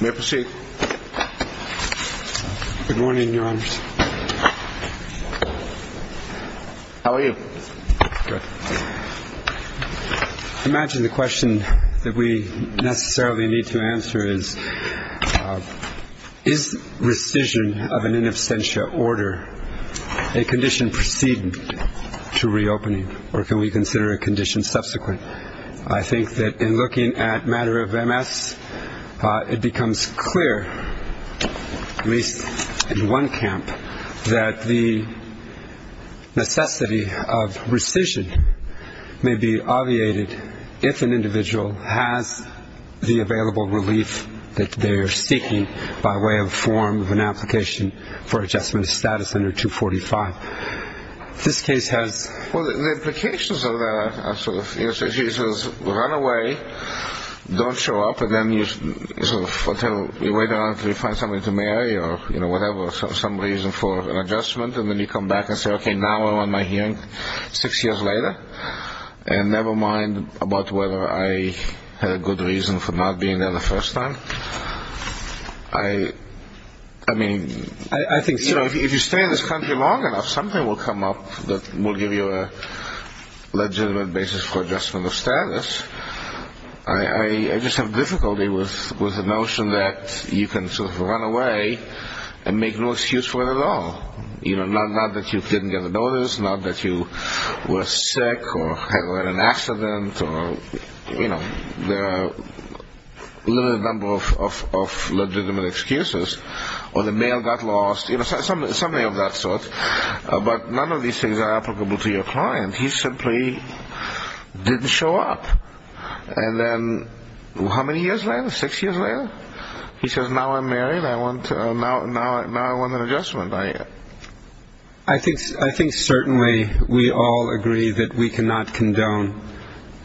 May I proceed? Good morning, Your Honors. How are you? Good. I imagine the question that we necessarily need to answer is, is rescission of an in absentia order a condition preceding to reopening, or can we consider a condition subsequent? I think that in looking at matter of MS, it becomes clear, at least in one camp, that the necessity of rescission may be obviated if an individual has the available relief that they are seeking by way of form of an application for adjustment of status under 245. This case has... Well, the implications of that are sort of, he says, run away, don't show up, and then you wait until you find somebody to marry, or whatever, some reason for an adjustment, and then you come back and say, okay, now I want my hearing six years later, and never mind about whether I had a good reason for not being there the first time. I mean, if you stay in this country long enough, something will come up that will give you a legitimate basis for adjustment of status. I just have difficulty with the notion that you can sort of run away and make no excuse for it at all. You know, not that you didn't get a notice, not that you were sick, or had an accident, or, you know, there are a limited number of legitimate excuses, or the mail got lost, you know, something of that sort. But none of these things are applicable to your client. He simply didn't show up. And then how many years later? Six years later? He says, now I'm married, now I want an adjustment. I think certainly we all agree that we cannot condone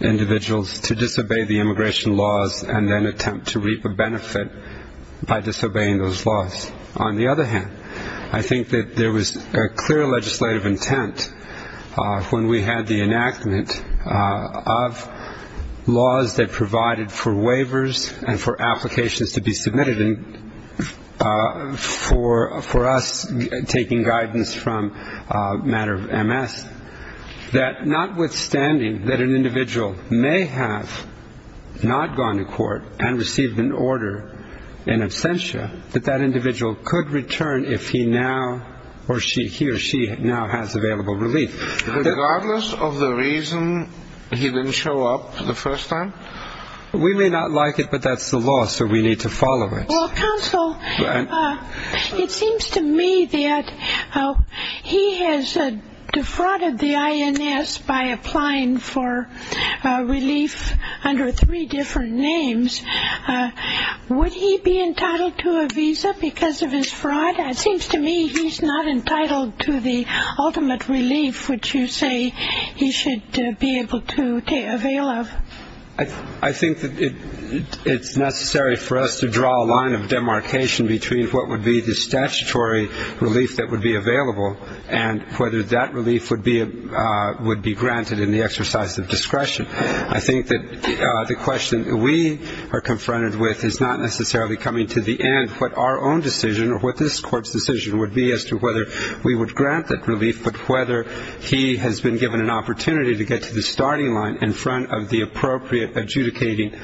individuals to disobey the immigration laws and then attempt to reap a benefit by disobeying those laws. On the other hand, I think that there was a clear legislative intent when we had the enactment of laws that taking guidance from matter of MS, that notwithstanding that an individual may have not gone to court and received an order in absentia, that that individual could return if he or she now has available relief. Regardless of the reason he didn't show up the first time? We may not like it, but that's the law, so we need to follow it. Well, counsel, it seems to me that he has defrauded the INS by applying for relief under three different names. Would he be entitled to a visa because of his fraud? It seems to me he's not entitled to the ultimate relief, which you say he should be able to avail of. I think that it's necessary for us to draw a line of demarcation between what would be the statutory relief that would be available and whether that relief would be granted in the exercise of discretion. I think that the question we are confronted with is not necessarily coming to the end what our own decision or what this Court's decision would be as to whether we would grant that relief, but whether he has been given an opportunity to get to the starting line in front of the appropriate adjudicating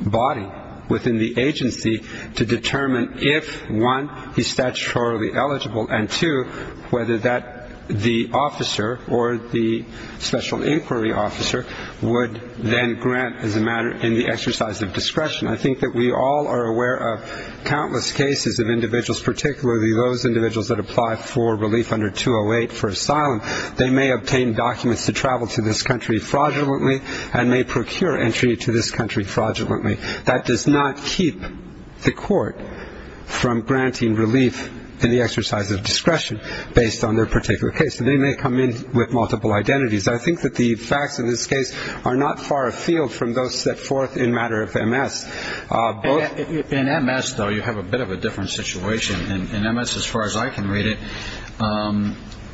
body within the agency to determine if one, he's statutorily eligible, and two, whether that the officer or the special inquiry officer would then grant as a matter in the exercise of discretion. I think that we all are aware of countless cases of individuals, particularly those individuals that apply for relief under 208 for asylum. They may obtain documents to travel to this country fraudulently and may procure entry to this country fraudulently. That does not keep the Court from granting relief in the exercise of discretion based on their particular case. They may come in with multiple identities. I think that the facts in this case are not far afield from those set forth in matter of MS. In MS, though, you have a bit of a different situation. In MS, as far as I can read it,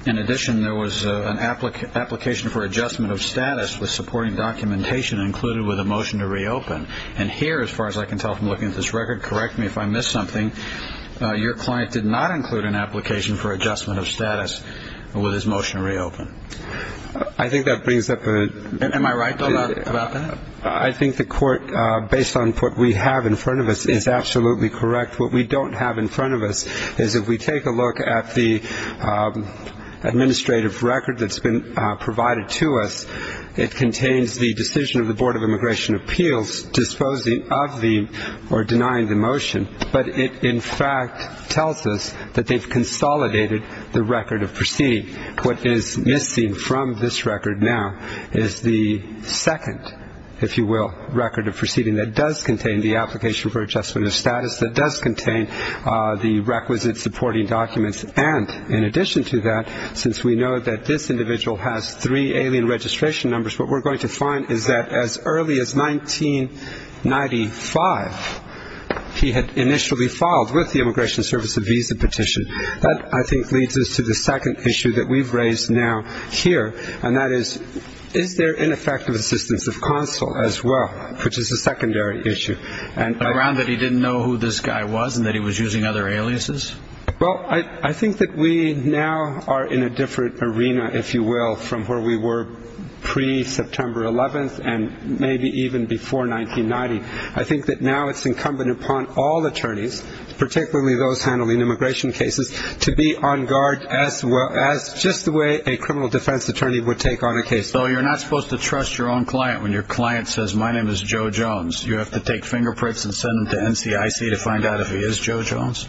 in addition, there was an application for adjustment of status with supporting documentation included with a motion to reopen. And here, as far as I can tell from looking at this record, correct me if I missed something, your client did not include an application for adjustment of status with his motion to reopen. I think that brings up a... Am I right, though, about that? I think the Court, based on what we have in front of us, is absolutely correct. What we have is an administrative record that's been provided to us. It contains the decision of the Board of Immigration Appeals disposing of the or denying the motion, but it in fact tells us that they've consolidated the record of proceeding. What is missing from this record now is the second, if you will, record of proceeding that does contain the application for adjustment of status, that does contain the requisite supporting documents. And in addition to that, since we know that this individual has three alien registration numbers, what we're going to find is that as early as 1995, he had initially filed with the Immigration Service a visa petition. That I think leads us to the second issue that we've raised now here, and that is, is there ineffective assistance of consul as well, which is a secondary issue. Around that he didn't know who this guy was and that he was using other aliases? Well, I think that we now are in a different arena, if you will, from where we were pre-September 11th and maybe even before 1990. I think that now it's incumbent upon all attorneys, particularly those handling immigration cases, to be on guard as just the way a criminal defense attorney would take on a case. So you're not supposed to trust your own client when your client says, my name is Joe Jones. You have to take fingerprints and send them to NCIC to find out if he is Joe Jones?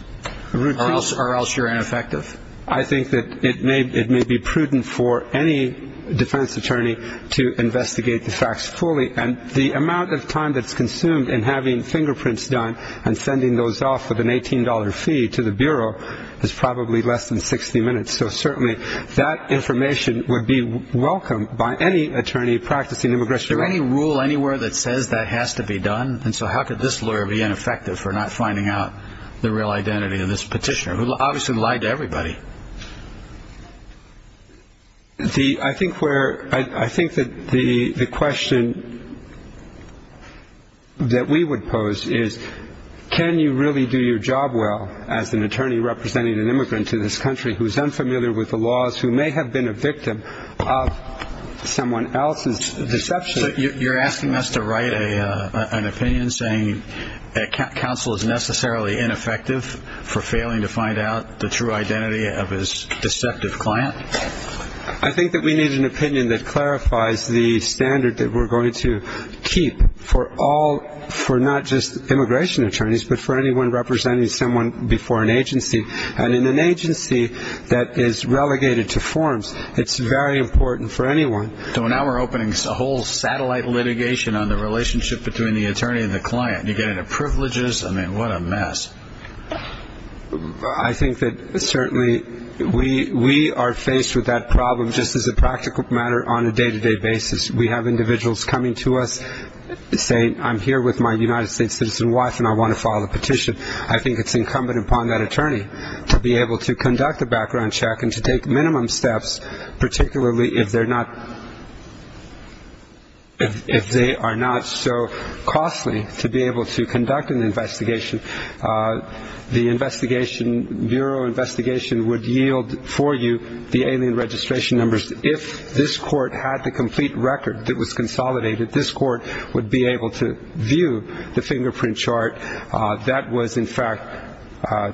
Or else you're ineffective? I think that it may be prudent for any defense attorney to investigate the facts fully. And the amount of time that's consumed in having fingerprints done and sending those off with an $18 fee to the Bureau is probably less than 60 minutes. So certainly that information would be welcomed by any attorney practicing immigration law. Is there any rule anywhere that says that has to be done? And so how could this lawyer be ineffective for not finding out the real identity of this petitioner, who obviously lied to everybody? I think that the question that we would pose is, can you really do your job well as an attorney representing an immigrant to this country who is unfamiliar with the laws, who is not familiar with immigration law? So you're asking us to write an opinion saying that counsel is necessarily ineffective for failing to find out the true identity of his deceptive client? I think that we need an opinion that clarifies the standard that we're going to keep for all, for not just immigration attorneys, but for anyone representing someone before an agency. And in an agency that is relegated to forms, it's very important for anyone. So now we're opening a whole satellite litigation on the relationship between the attorney and the client. You get into privileges. I mean, what a mess. I think that certainly we are faced with that problem just as a practical matter on a day-to-day basis. We have individuals coming to us saying, I'm here with my United States citizen wife and I want to file a petition. I think it's incumbent upon that attorney to be able to do that. If they are not so costly to be able to conduct an investigation, the investigation, bureau investigation would yield for you the alien registration numbers. If this court had the complete record that was consolidated, this court would be able to view the fingerprint chart that was in fact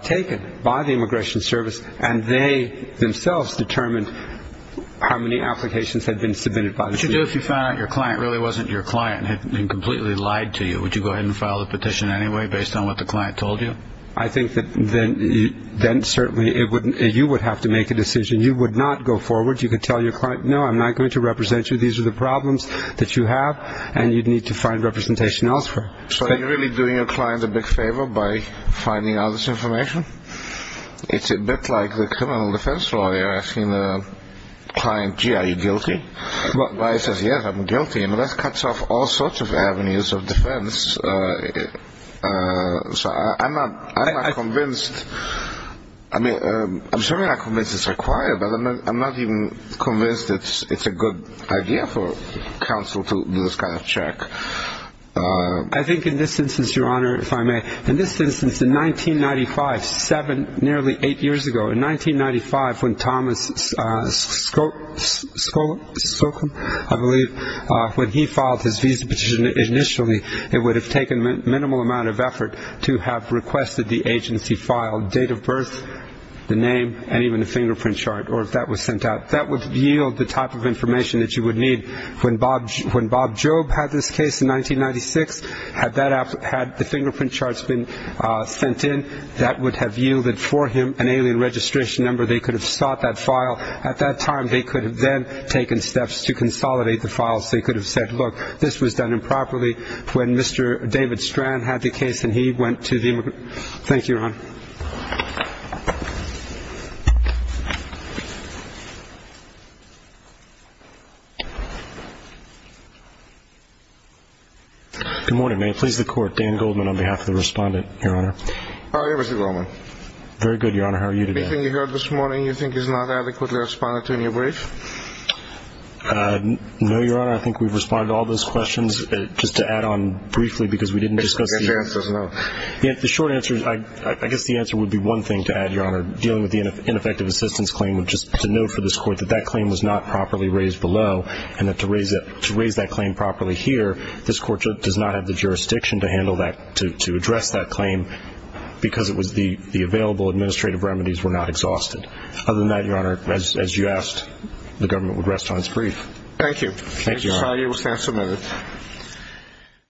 taken by the Immigration Service and they themselves determined how many applications had been submitted by the agency. What would you do if you found out your client really wasn't your client and had been completely lied to you? Would you go ahead and file the petition anyway based on what the client told you? I think that then certainly you would have to make a decision. You would not go forward. You could tell your client, no, I'm not going to represent you. These are the problems that you have and you'd need to find representation elsewhere. So are you really doing your client a big favor by finding out this information? It's a bit like the criminal defense lawyer asking the client, gee, are you guilty? The lawyer says, yes, I'm guilty. That cuts off all sorts of avenues of defense. So I'm not convinced – I mean, I'm certainly not convinced it's required, but I'm not even convinced it's a good idea for counsel to do this kind of check. I think in this instance, Your Honor, if I may, in this instance, in 1995, seven, nearly eight years ago, in 1995, when Thomas Skolkin, I believe, when he filed his visa petition initially, it would have taken minimal amount of effort to have requested the agency file date of birth, the name, and even the fingerprint chart, or if that was sent out. That would have yielded for him an alien registration number. They could have sought that file. At that time, they could have then taken steps to consolidate the files. They could have said, look, this was done improperly when Mr. David Strand had the case and he went to the – thank you, Your Honor. Good morning. May it please the Court, Dan Goldman on behalf of the Respondent, Your Honor. How are you, Mr. Goldman? Very good, Your Honor. How are you today? Anything you heard this morning you think is not adequately responded to in your brief? No, Your Honor. I think we've responded to all those questions. Just to add, Your Honor, dealing with the ineffective assistance claim, just to note for this Court, that that claim was not properly raised below, and to raise that claim properly here, this Court does not have the jurisdiction to handle that, to address that claim, because the available administrative remedies were not exhausted. Other than that, Your Honor, as you asked, the government would rest on its brief. Thank you. Thank you, Your Honor.